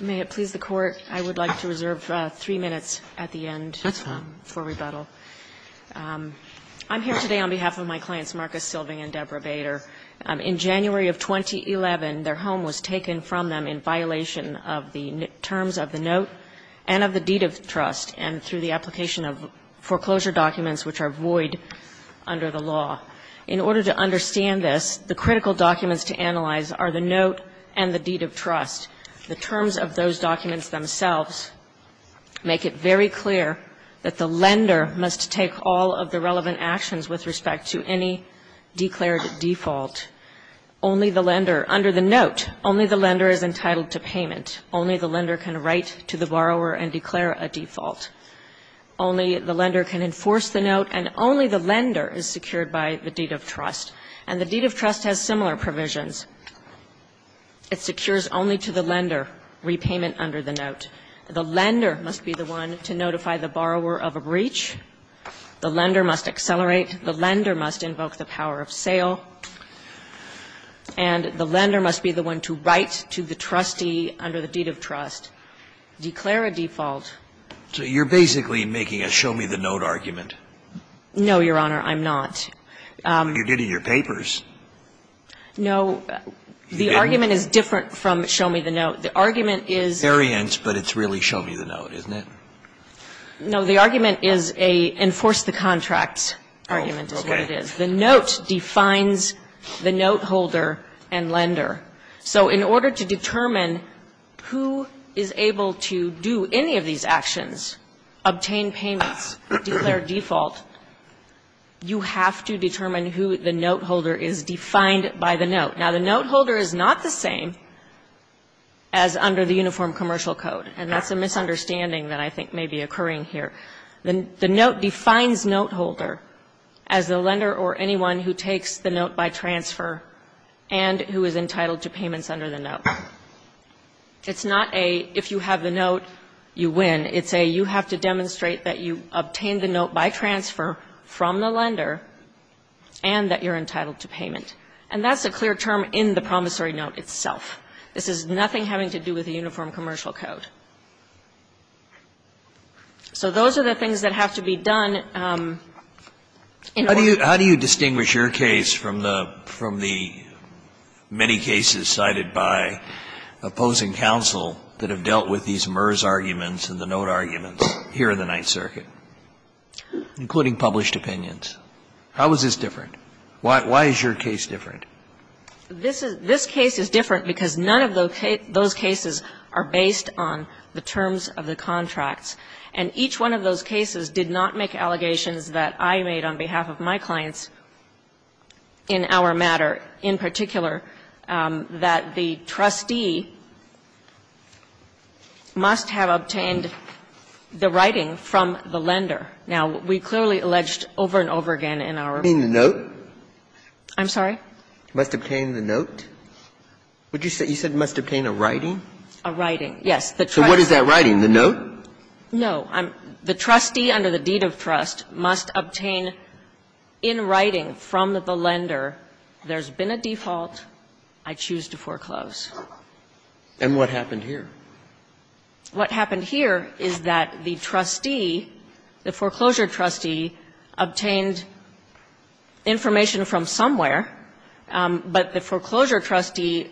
May it please the Court, I would like to reserve three minutes at the end for rebuttal. I'm here today on behalf of my clients, Marcus Silving and Deborah Bader. In January of 2011, their home was taken from them in violation of the terms of the note and of the deed of trust, and through the application of foreclosure documents, which are void under the law. In order to understand this, the critical documents to analyze are the note and the deed of trust. The terms of those documents themselves make it very clear that the lender must take all of the relevant actions with respect to any declared default. Only the lender under the note, only the lender is entitled to payment. Only the lender can write to the borrower and declare a default. Only the lender can enforce the note, and only the lender is secured by the deed of trust. And the deed of trust has similar provisions. It secures only to the lender repayment under the note. The lender must be the one to notify the borrower of a breach. The lender must accelerate. The lender must invoke the power of sale. And the lender must be the one to write to the trustee under the deed of trust, declare a default. So you're basically making a show-me-the-note argument? No, Your Honor, I'm not. You did in your papers. No, the argument is different from show-me-the-note. The argument is the variance, but it's really show-me-the-note, isn't it? No, the argument is a enforce-the-contract argument is what it is. Oh, okay. The note defines the note holder and lender. So in order to determine who is able to do any of these actions, obtain payments, declare default, you have to determine who the note holder is in this case. The note holder is defined by the note. Now, the note holder is not the same as under the Uniform Commercial Code, and that's a misunderstanding that I think may be occurring here. The note defines note holder as the lender or anyone who takes the note by transfer and who is entitled to payments under the note. It's not a, if you have the note, you win. It's a, you have to demonstrate that you obtained the note by transfer from the lender and that you're entitled to payments. And that's a clear term in the promissory note itself. This has nothing having to do with the Uniform Commercial Code. So those are the things that have to be done in order to determine who is able to do any of these actions. How do you distinguish your case from the many cases cited by opposing counsel that have dealt with these MERS arguments and the note arguments here in the Ninth What makes this case different? This is, this case is different because none of those cases are based on the terms of the contracts, and each one of those cases did not make allegations that I made on behalf of my clients in our matter, in particular, that the trustee must have obtained the writing from the lender. Now, we clearly alleged over and over again in our review that the trustee must have obtained the writing from the lender. I'm sorry? Must obtain the note? Would you say, you said must obtain a writing? A writing, yes. So what is that writing, the note? No. The trustee under the deed of trust must obtain in writing from the lender, there's been a default, I choose to foreclose. And what happened here? What happened here is that the trustee, the foreclosure trustee, obtained information from somewhere, but the foreclosure trustee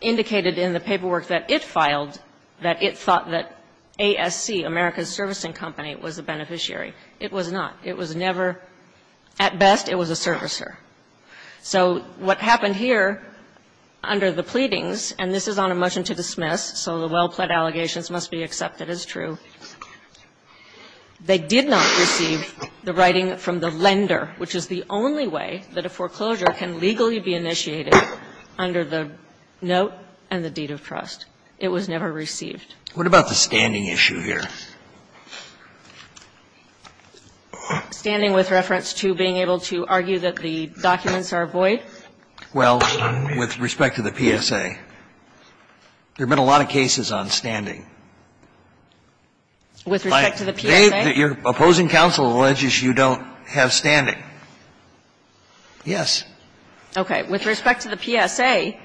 indicated in the paperwork that it filed, that it thought that ASC, America's Servicing Company, was the beneficiary. It was not. It was never. At best, it was a servicer. So what happened here under the pleadings, and this is on a motion to dismiss, so the well-pled allegations must be accepted as true, they did not receive the writing from the lender, which is the only way that a foreclosure can legally be initiated under the note and the deed of trust. It was never received. What about the standing issue here? Standing with reference to being able to argue that the documents are void? Well, with respect to the PSA, there have been a lot of cases on standing. With respect to the PSA? Your opposing counsel alleges you don't have standing. Yes. Okay. With respect to the PSA,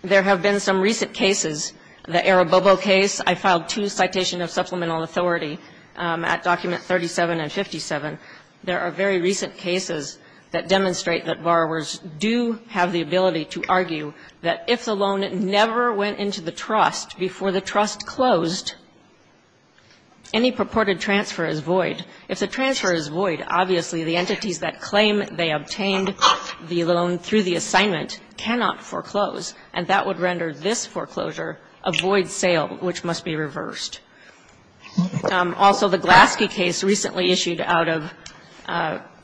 there have been some recent cases. The Arabobo case, I filed two citations of supplemental authority at document 37 and 57. There are very recent cases that demonstrate that borrowers do have the ability to argue that if the loan never went into the trust before the trust closed, any purported transfer is void. If the transfer is void, obviously the entities that claim they obtained the loan through the assignment cannot foreclose, and that would render this foreclosure a void sale, which must be reversed. Also, the Glaske case recently issued out of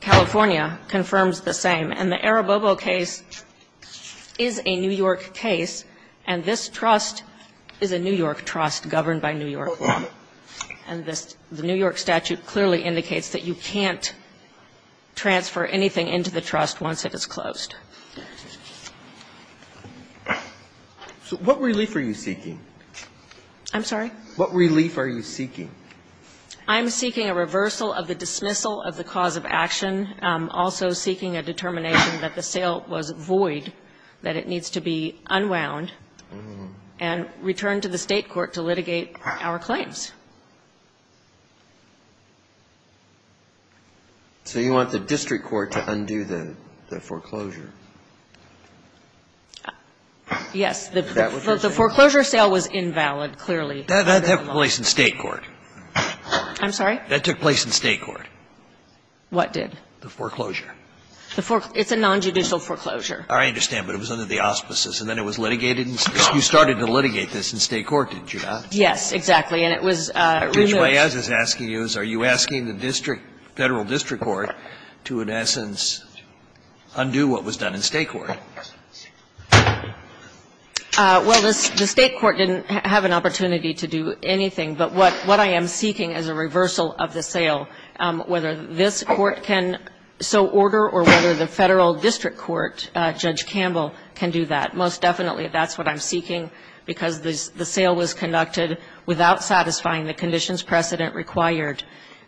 California confirms the same. And the Arabobo case is a New York case, and this trust is a New York trust governed by New York. And the New York statute clearly indicates that you can't transfer anything into the trust once it is closed. So what relief are you seeking? I'm sorry? What relief are you seeking? I'm seeking a reversal of the dismissal of the cause of action. I'm also seeking a determination that the sale was void, that it needs to be unwound, and return to the State court to litigate our claims. So you want the district court to undo the foreclosure? Yes. The foreclosure sale was invalid, clearly. That took place in State court. I'm sorry? That took place in State court. What did? The foreclosure. The foreclosure. It's a nonjudicial foreclosure. I understand, but it was under the auspices. And then it was litigated in State court. You started to litigate this in State court, did you not? Yes, exactly. And it was reversed. Judge Mayaz is asking you, are you asking the district, Federal district court, to in essence undo what was done in State court? Well, the State court didn't have an opportunity to do anything. But what I am seeking is a reversal of the sale, whether this court can so order or whether the Federal district court, Judge Campbell, can do that. Most definitely that's what I'm seeking, because the sale was conducted without satisfying the conditions precedent required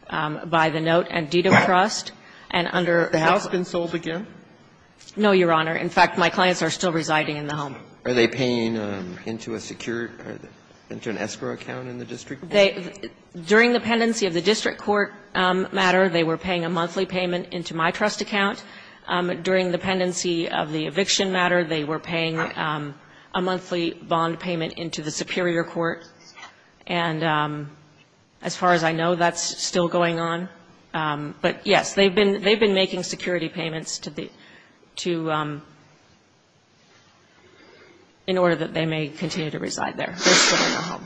by the note and deed of trust. Has the house been sold again? No, Your Honor. In fact, my clients are still residing in the home. Are they paying into a secure or into an escrow account in the district? During the pendency of the district court matter, they were paying a monthly payment into my trust account. During the pendency of the eviction matter, they were paying a monthly bond payment into the superior court, and as far as I know, that's still going on. But, yes, they've been making security payments to the to in order that they may continue to reside there. They're still in the home.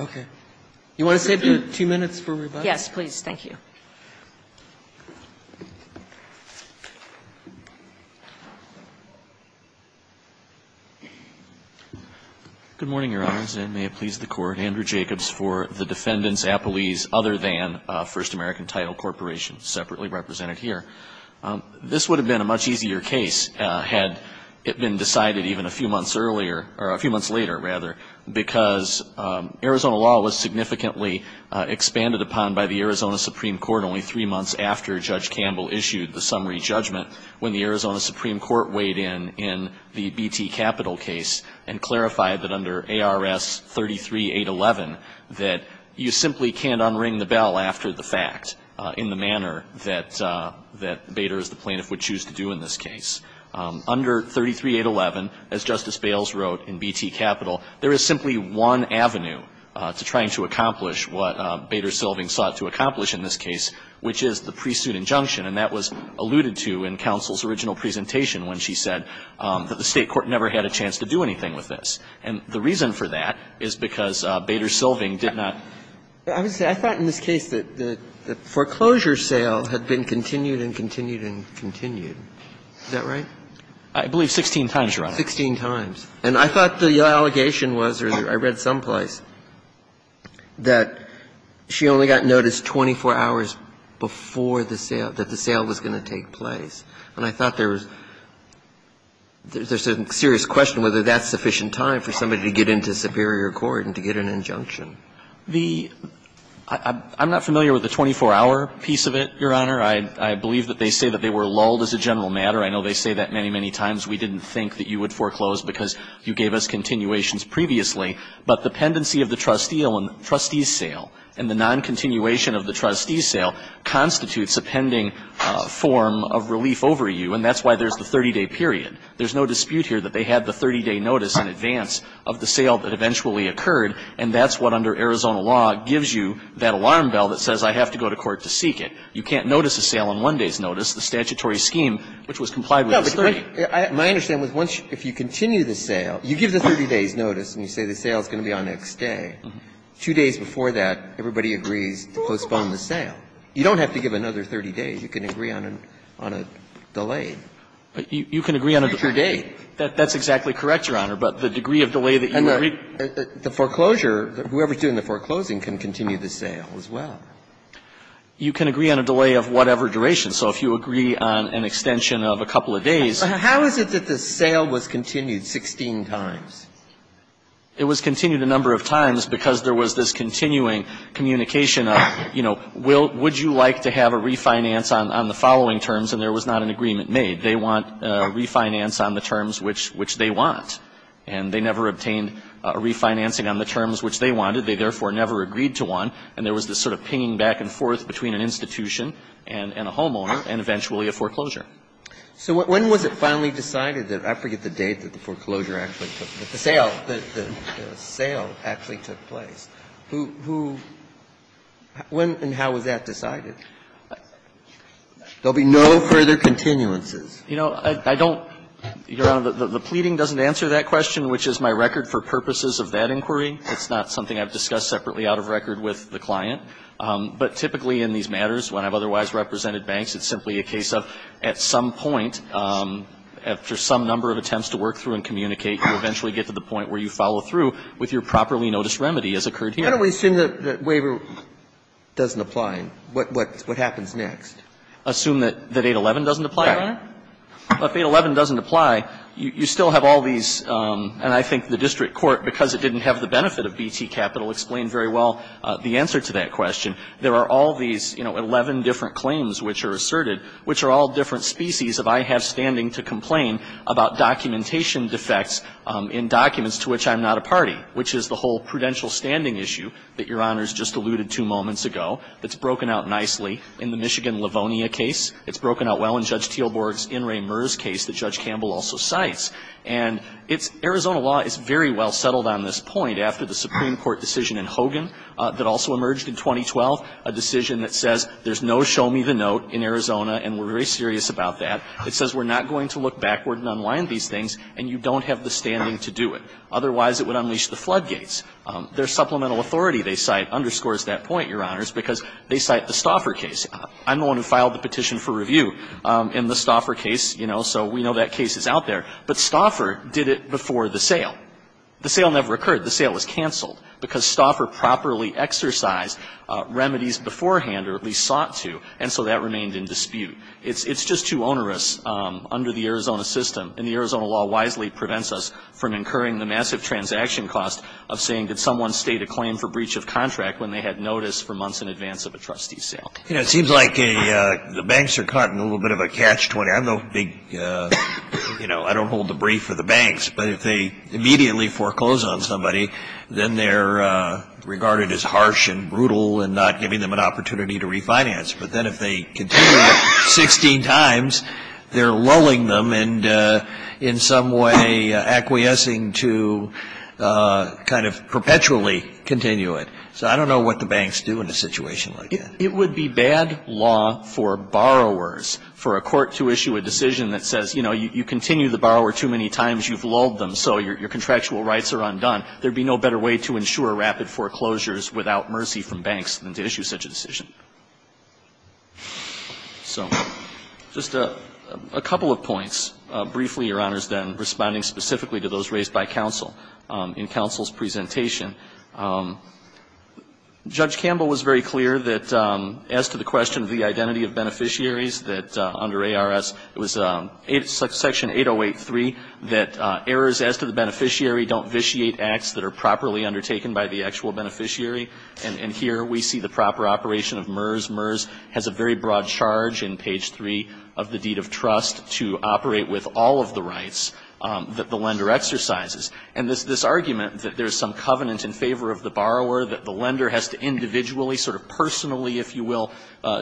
Okay. You want to save two minutes for rebuttal? Yes, please. Thank you. Good morning, Your Honors, and may it please the Court. I'm Andrew Jacobs for the defendants' appellees other than First American Title Corporation, separately represented here. This would have been a much easier case had it been decided even a few months earlier or a few months later, rather, because Arizona law was significantly expanded upon by the Arizona Supreme Court only three months after Judge Campbell issued the summary judgment when the Arizona Supreme Court weighed in in the BT Capital case and clarified that under ARS 33-811 that you simply can't unring the bell after the fact in the manner that Bader as the plaintiff would choose to do in this case. Under 33-811, as Justice Bales wrote in BT Capital, there is simply one avenue to trying to accomplish what Bader Silving sought to accomplish in this case, which is the pre-suit injunction, and that was alluded to in counsel's original presentation when she said that the State court never had a chance to do anything with this. And the reason for that is because Bader Silving did not. I thought in this case that the foreclosure sale had been continued and continued and continued. Is that right? I believe 16 times, Your Honor. Sixteen times. And I thought the allegation was, or I read someplace, that she only got notice 24 hours before the sale, that the sale was going to take place. And I thought there was – there's a serious question whether that's sufficient time for somebody to get into superior court and to get an injunction. The – I'm not familiar with the 24-hour piece of it, Your Honor. I believe that they say that they were lulled as a general matter. I know they say that many, many times. We didn't think that you would foreclose because you gave us continuations previously, but the pendency of the trustee sale and the noncontinuation of the trustee sale constitutes a pending form of relief over you. And that's why there's the 30-day period. There's no dispute here that they had the 30-day notice in advance of the sale that eventually occurred. And that's what, under Arizona law, gives you that alarm bell that says I have to go to court to seek it. You can't notice a sale on one day's notice. The statutory scheme which was complied with was 30. My understanding was once – if you continue the sale, you give the 30-day notice and you say the sale is going to be on the next day. Two days before that, everybody agrees to postpone the sale. You don't have to give another 30 days. You can agree on a delay. But you can agree on a delay. That's exactly correct, Your Honor. But the degree of delay that you agree to. The foreclosure, whoever is doing the foreclosing can continue the sale as well. You can agree on a delay of whatever duration. So if you agree on an extension of a couple of days. How is it that the sale was continued 16 times? It was continued a number of times because there was this continuing communication of, you know, would you like to have a refinance on the following terms? And there was not an agreement made. They want a refinance on the terms which they want. And they never obtained a refinancing on the terms which they wanted. They, therefore, never agreed to one. And there was this sort of pinging back and forth between an institution and a homeowner and eventually a foreclosure. So when was it finally decided that – I forget the date that the foreclosure actually took place, the sale, the sale actually took place. Who, when and how was that decided? There will be no further continuances. You know, I don't, Your Honor, the pleading doesn't answer that question, which is my record for purposes of that inquiry. It's not something I've discussed separately out of record with the client. But typically in these matters, when I've otherwise represented banks, it's simply a case of at some point, after some number of attempts to work through and communicate, you eventually get to the point where you follow through with your properly noticed remedy, as occurred here. Why don't we assume that the waiver doesn't apply? What happens next? Assume that 811 doesn't apply, Your Honor? Right. If 811 doesn't apply, you still have all these, and I think the district court, because it didn't have the benefit of BT Capital, explained very well the answer to that question. There are all these, you know, 11 different claims which are asserted, which are all different species of I have standing to complain about documentation defects in documents to which I'm not a party, which is the whole prudential standing issue that Your Honor has just alluded to moments ago that's broken out nicely in the Michigan Livonia case. It's broken out well in Judge Teelborg's In re Mer's case that Judge Campbell also cites. And Arizona law is very well settled on this point after the Supreme Court decision in Hogan that also emerged in 2012, a decision that says there's no show-me-the-note in Arizona and we're very serious about that. It says we're not going to look backward and unwind these things and you don't have the standing to do it. Otherwise, it would unleash the floodgates. Their supplemental authority, they cite, underscores that point, Your Honors, because they cite the Stauffer case. I'm the one who filed the petition for review in the Stauffer case, you know, so we know that case is out there. But Stauffer did it before the sale. The sale never occurred. The sale was canceled because Stauffer properly exercised remedies beforehand or at least sought to. And so that remained in dispute. It's just too onerous under the Arizona system. And the Arizona law wisely prevents us from incurring the massive transaction cost of saying did someone state a claim for breach of contract when they had notice for months in advance of a trustee sale. It seems like the banks are caught in a little bit of a catch-20. I don't hold the brief for the banks, but if they immediately foreclose on somebody then they're regarded as harsh and brutal and not giving them an opportunity to refinance. But then if they continue it 16 times, they're lulling them and in some way acquiescing to kind of perpetually continue it. So I don't know what the banks do in a situation like that. It would be bad law for borrowers, for a court to issue a decision that says, you know, you continue the borrower too many times, you've lulled them, so your contractual rights are undone. There would be no better way to ensure rapid foreclosures without mercy from banks than to issue such a decision. So just a couple of points briefly, Your Honors, then responding specifically to those raised by counsel in counsel's presentation. Judge Campbell was very clear that as to the question of the identity of beneficiaries, that under ARS it was Section 8083 that errors as to the beneficiary don't necessarily vitiate acts that are properly undertaken by the actual beneficiary. And here we see the proper operation of MERS. MERS has a very broad charge in page 3 of the Deed of Trust to operate with all of the rights that the lender exercises. And this argument that there's some covenant in favor of the borrower, that the lender has to individually, sort of personally, if you will,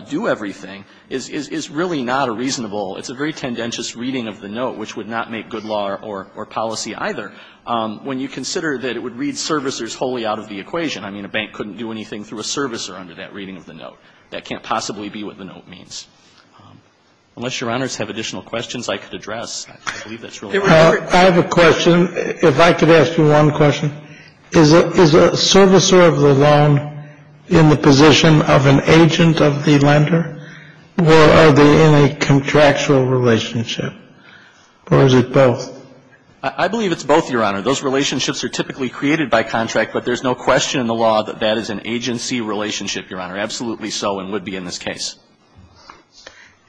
do everything, is really not a reasonable, it's a very tendentious reading of the note, which would not make good law or policy either, when you consider that it would read servicers wholly out of the equation. I mean, a bank couldn't do anything through a servicer under that reading of the note. That can't possibly be what the note means. Unless Your Honors have additional questions I could address, I believe that's really all. Kennedy. I have a question. If I could ask you one question. Is a servicer of the loan in the position of an agent of the lender, or are they in a contractual relationship? Or is it both? I believe it's both, Your Honor. Those relationships are typically created by contract, but there's no question in the law that that is an agency relationship, Your Honor. Absolutely so, and would be in this case.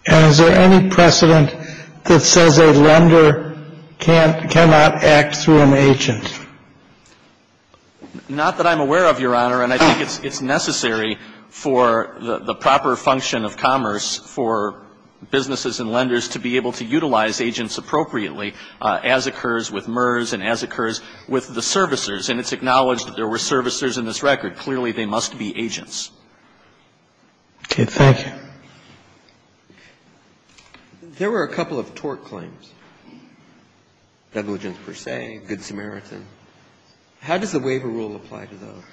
And is there any precedent that says a lender cannot act through an agent? Not that I'm aware of, Your Honor, and I think it's necessary for the proper function of commerce for businesses and lenders to be able to utilize agents appropriately as occurs with MERS and as occurs with the servicers, and it's acknowledged that there were servicers in this record. Clearly, they must be agents. Okay. Thank you. There were a couple of tort claims, negligence per se, Good Samaritan. How does the waiver rule apply to those?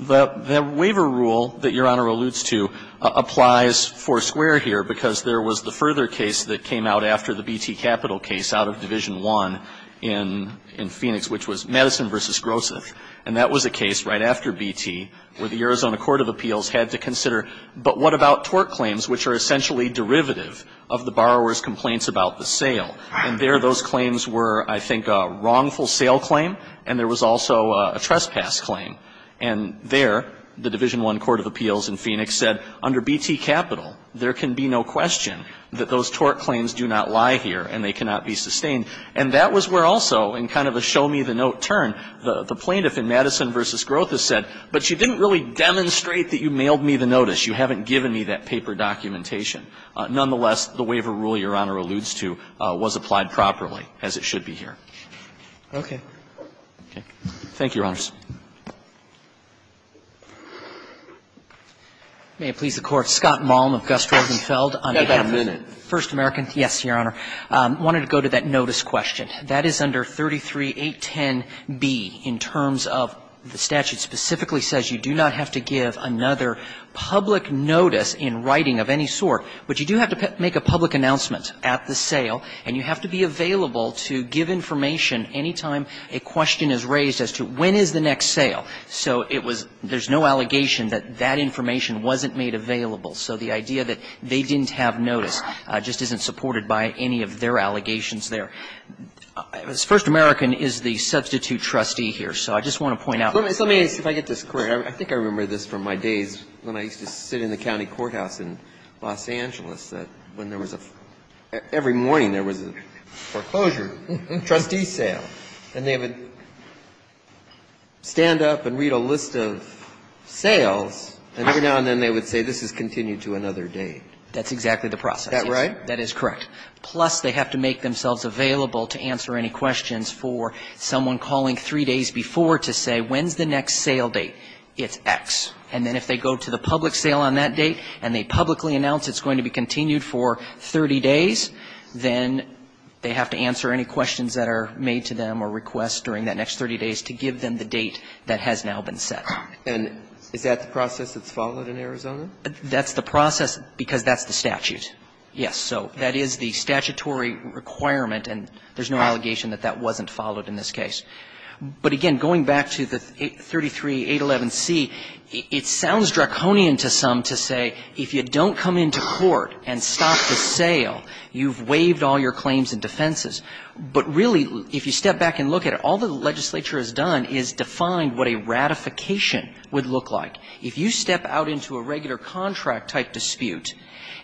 The waiver rule that Your Honor alludes to applies foursquare here because there was the further case that came out after the BT Capital case out of Division I in Phoenix, which was Madison v. Groseth, and that was a case right after BT where the Arizona Court of Appeals had to consider, but what about tort claims which are essentially derivative of the borrower's complaints about the sale? And there, those claims were, I think, a wrongful sale claim, and there was also a trespass claim, and there, the Division I Court of Appeals in Phoenix said, under BT Capital, there can be no question that those tort claims do not lie here and they cannot be sustained. And that was where also, in kind of a show-me-the-note turn, the plaintiff in Madison v. Groseth said, but you didn't really demonstrate that you mailed me the notice. You haven't given me that paper documentation. Nonetheless, the waiver rule Your Honor alludes to was applied properly, as it should be here. Okay. Okay. Thank you, Your Honors. May it please the Court. Scott Malm of Gust Rosenfeld. Yes. You have about a minute. First American. Yes, Your Honor. I wanted to go to that notice question. That is under 33-810B in terms of the statute specifically says you do not have to give another public notice in writing of any sort, but you do have to make a public announcement at the sale and you have to be available to give information any time a question is raised as to when is the next sale. So it was no allegation that that information wasn't made available. So the idea that they didn't have notice just isn't supported by any of their allegations there. First American is the substitute trustee here, so I just want to point out. Let me see if I get this correct. I think I remember this from my days when I used to sit in the county courthouse in Los Angeles, that when there was a – every morning there was a foreclosure trustee sale. And they would stand up and read a list of sales, and every now and then they would say this is continued to another date. That's exactly the process. Is that right? That is correct. Plus, they have to make themselves available to answer any questions for someone calling three days before to say when's the next sale date. It's X. And then if they go to the public sale on that date and they publicly announce it's going to be continued for 30 days, then they have to answer any questions that are made to them or requests during that next 30 days to give them the date that has now been set. And is that the process that's followed in Arizona? That's the process because that's the statute. Yes. So that is the statutory requirement, and there's no allegation that that wasn't followed in this case. But again, going back to the 33811C, it sounds draconian to some to say if you don't come into court and stop the sale, you've waived all your claims and defenses. But really, if you step back and look at it, all the legislature has done is defined what a ratification would look like. If you step out into a regular contract-type dispute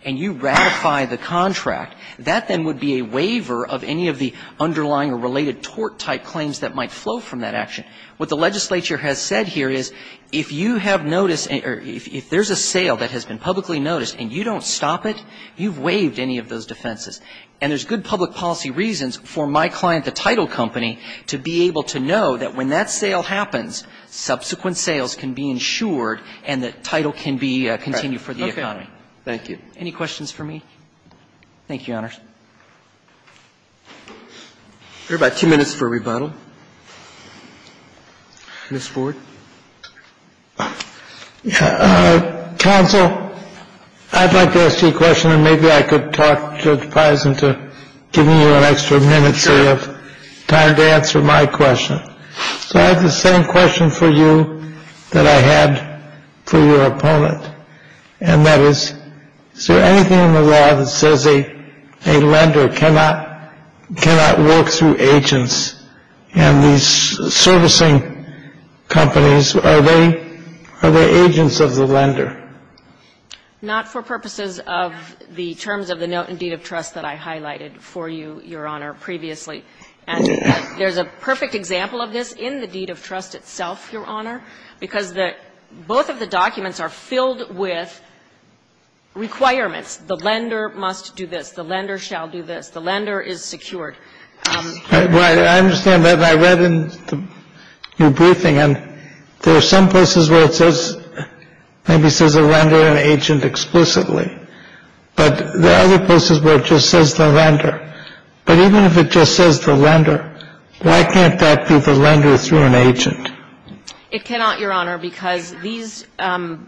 and you ratify the contract, that then would be a waiver of any of the underlying or related tort-type claims that might flow from that action. What the legislature has said here is if you have noticed or if there's a sale that has been publicly noticed and you don't stop it, you've waived any of those defenses. And there's good public policy reasons for my client, the title company, to be able to know that when that sale happens, subsequent sales can be insured and the title can be continued for the economy. Thank you. Any questions for me? Thank you, Your Honors. There are about two minutes for rebuttal. Ms. Ford? Counsel, I'd like to ask you a question, and maybe I could talk Judge Pison to giving you an extra minute so you have time to answer my question. So I have the same question for you that I had for your opponent, and that is, is there anything in the law that says a lender cannot work through agents? And these servicing companies, are they agents of the lender? Not for purposes of the terms of the note in deed of trust that I highlighted for you, Your Honor, previously. And there's a perfect example of this in the deed of trust itself, Your Honor, because both of the documents are filled with requirements. The lender must do this. The lender shall do this. The lender is secured. Well, I understand that, and I read in your briefing, and there are some places where it says, maybe says a lender and an agent explicitly, but there are other places where it just says the lender. But even if it just says the lender, why can't that be the lender through an agent? It cannot, Your Honor, because these the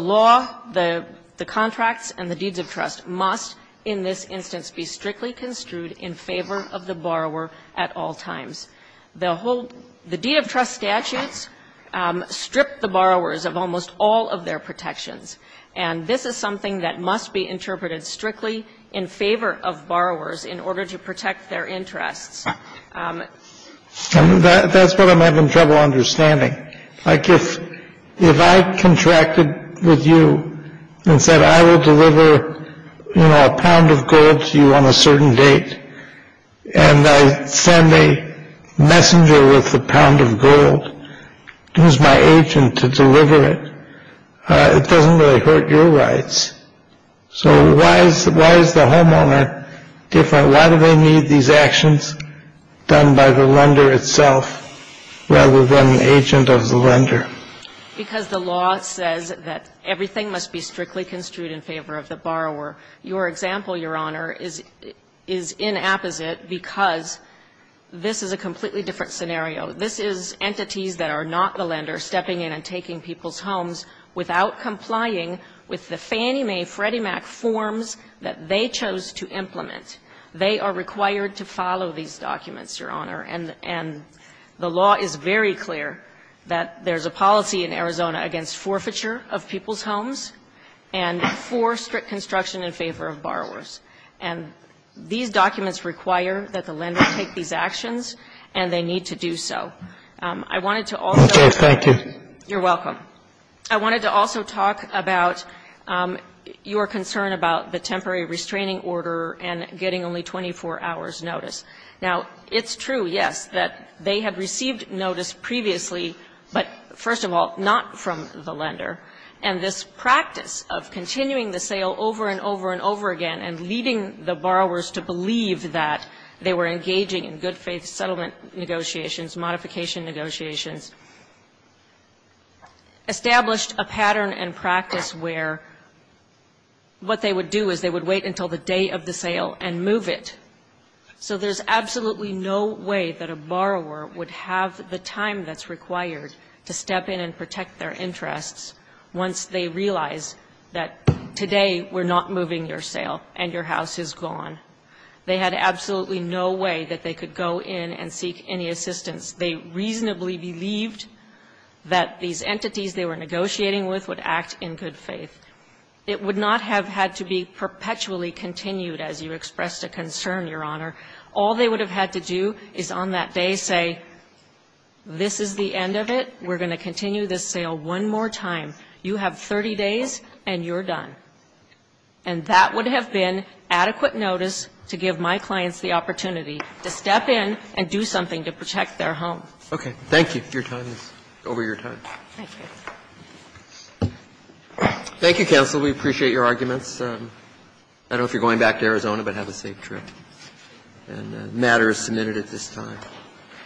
law, the contracts, and the deeds of trust must, in this instance, be strictly construed in favor of the borrower at all times. The deed of trust statutes strip the borrowers of almost all of their protections. And this is something that must be interpreted strictly in favor of borrowers in order to protect their interests. That's what I'm having trouble understanding. Like if I contracted with you and said I will deliver a pound of gold to you on a certain date and I send a messenger with a pound of gold, use my agent to deliver it, it doesn't really hurt your rights. So why is the homeowner different? Why do they need these actions done by the lender itself rather than the agent of the lender? Because the law says that everything must be strictly construed in favor of the borrower. Your example, Your Honor, is inapposite because this is a completely different scenario. This is entities that are not the lender stepping in and taking people's homes without complying with the Fannie Mae, Freddie Mac forms that they chose to implement. They are required to follow these documents, Your Honor. And the law is very clear that there's a policy in Arizona against forfeiture of people's homes and for strict construction in favor of borrowers. And these documents require that the lender take these actions and they need to do so. I wanted to also say that you're welcome. I wanted to also talk about your concern about the temporary restraining order and getting only 24 hours' notice. Now, it's true, yes, that they had received notice previously, but first of all, not from the lender. And this practice of continuing the sale over and over and over again and leading the borrowers to believe that they were engaging in good faith settlement negotiations, modification negotiations, established a pattern and practice where what they would do is they would wait until the day of the sale and move it. So there's absolutely no way that a borrower would have the time that's required to step in and protect their interests once they realize that today we're not moving your sale and your house is gone. They had absolutely no way that they could go in and seek any assistance. They reasonably believed that these entities they were negotiating with would act in good faith. It would not have had to be perpetually continued as you expressed a concern, Your Honor. All they would have had to do is on that day say, this is the end of it. We're going to continue this sale one more time. You have 30 days and you're done. And that would have been adequate notice to give my clients the opportunity to step in and do something to protect their home. Okay. Thank you. Your time is over. Thank you. Thank you, counsel. We appreciate your arguments. I don't know if you're going back to Arizona, but have a safe trip. And the matter is submitted at this time.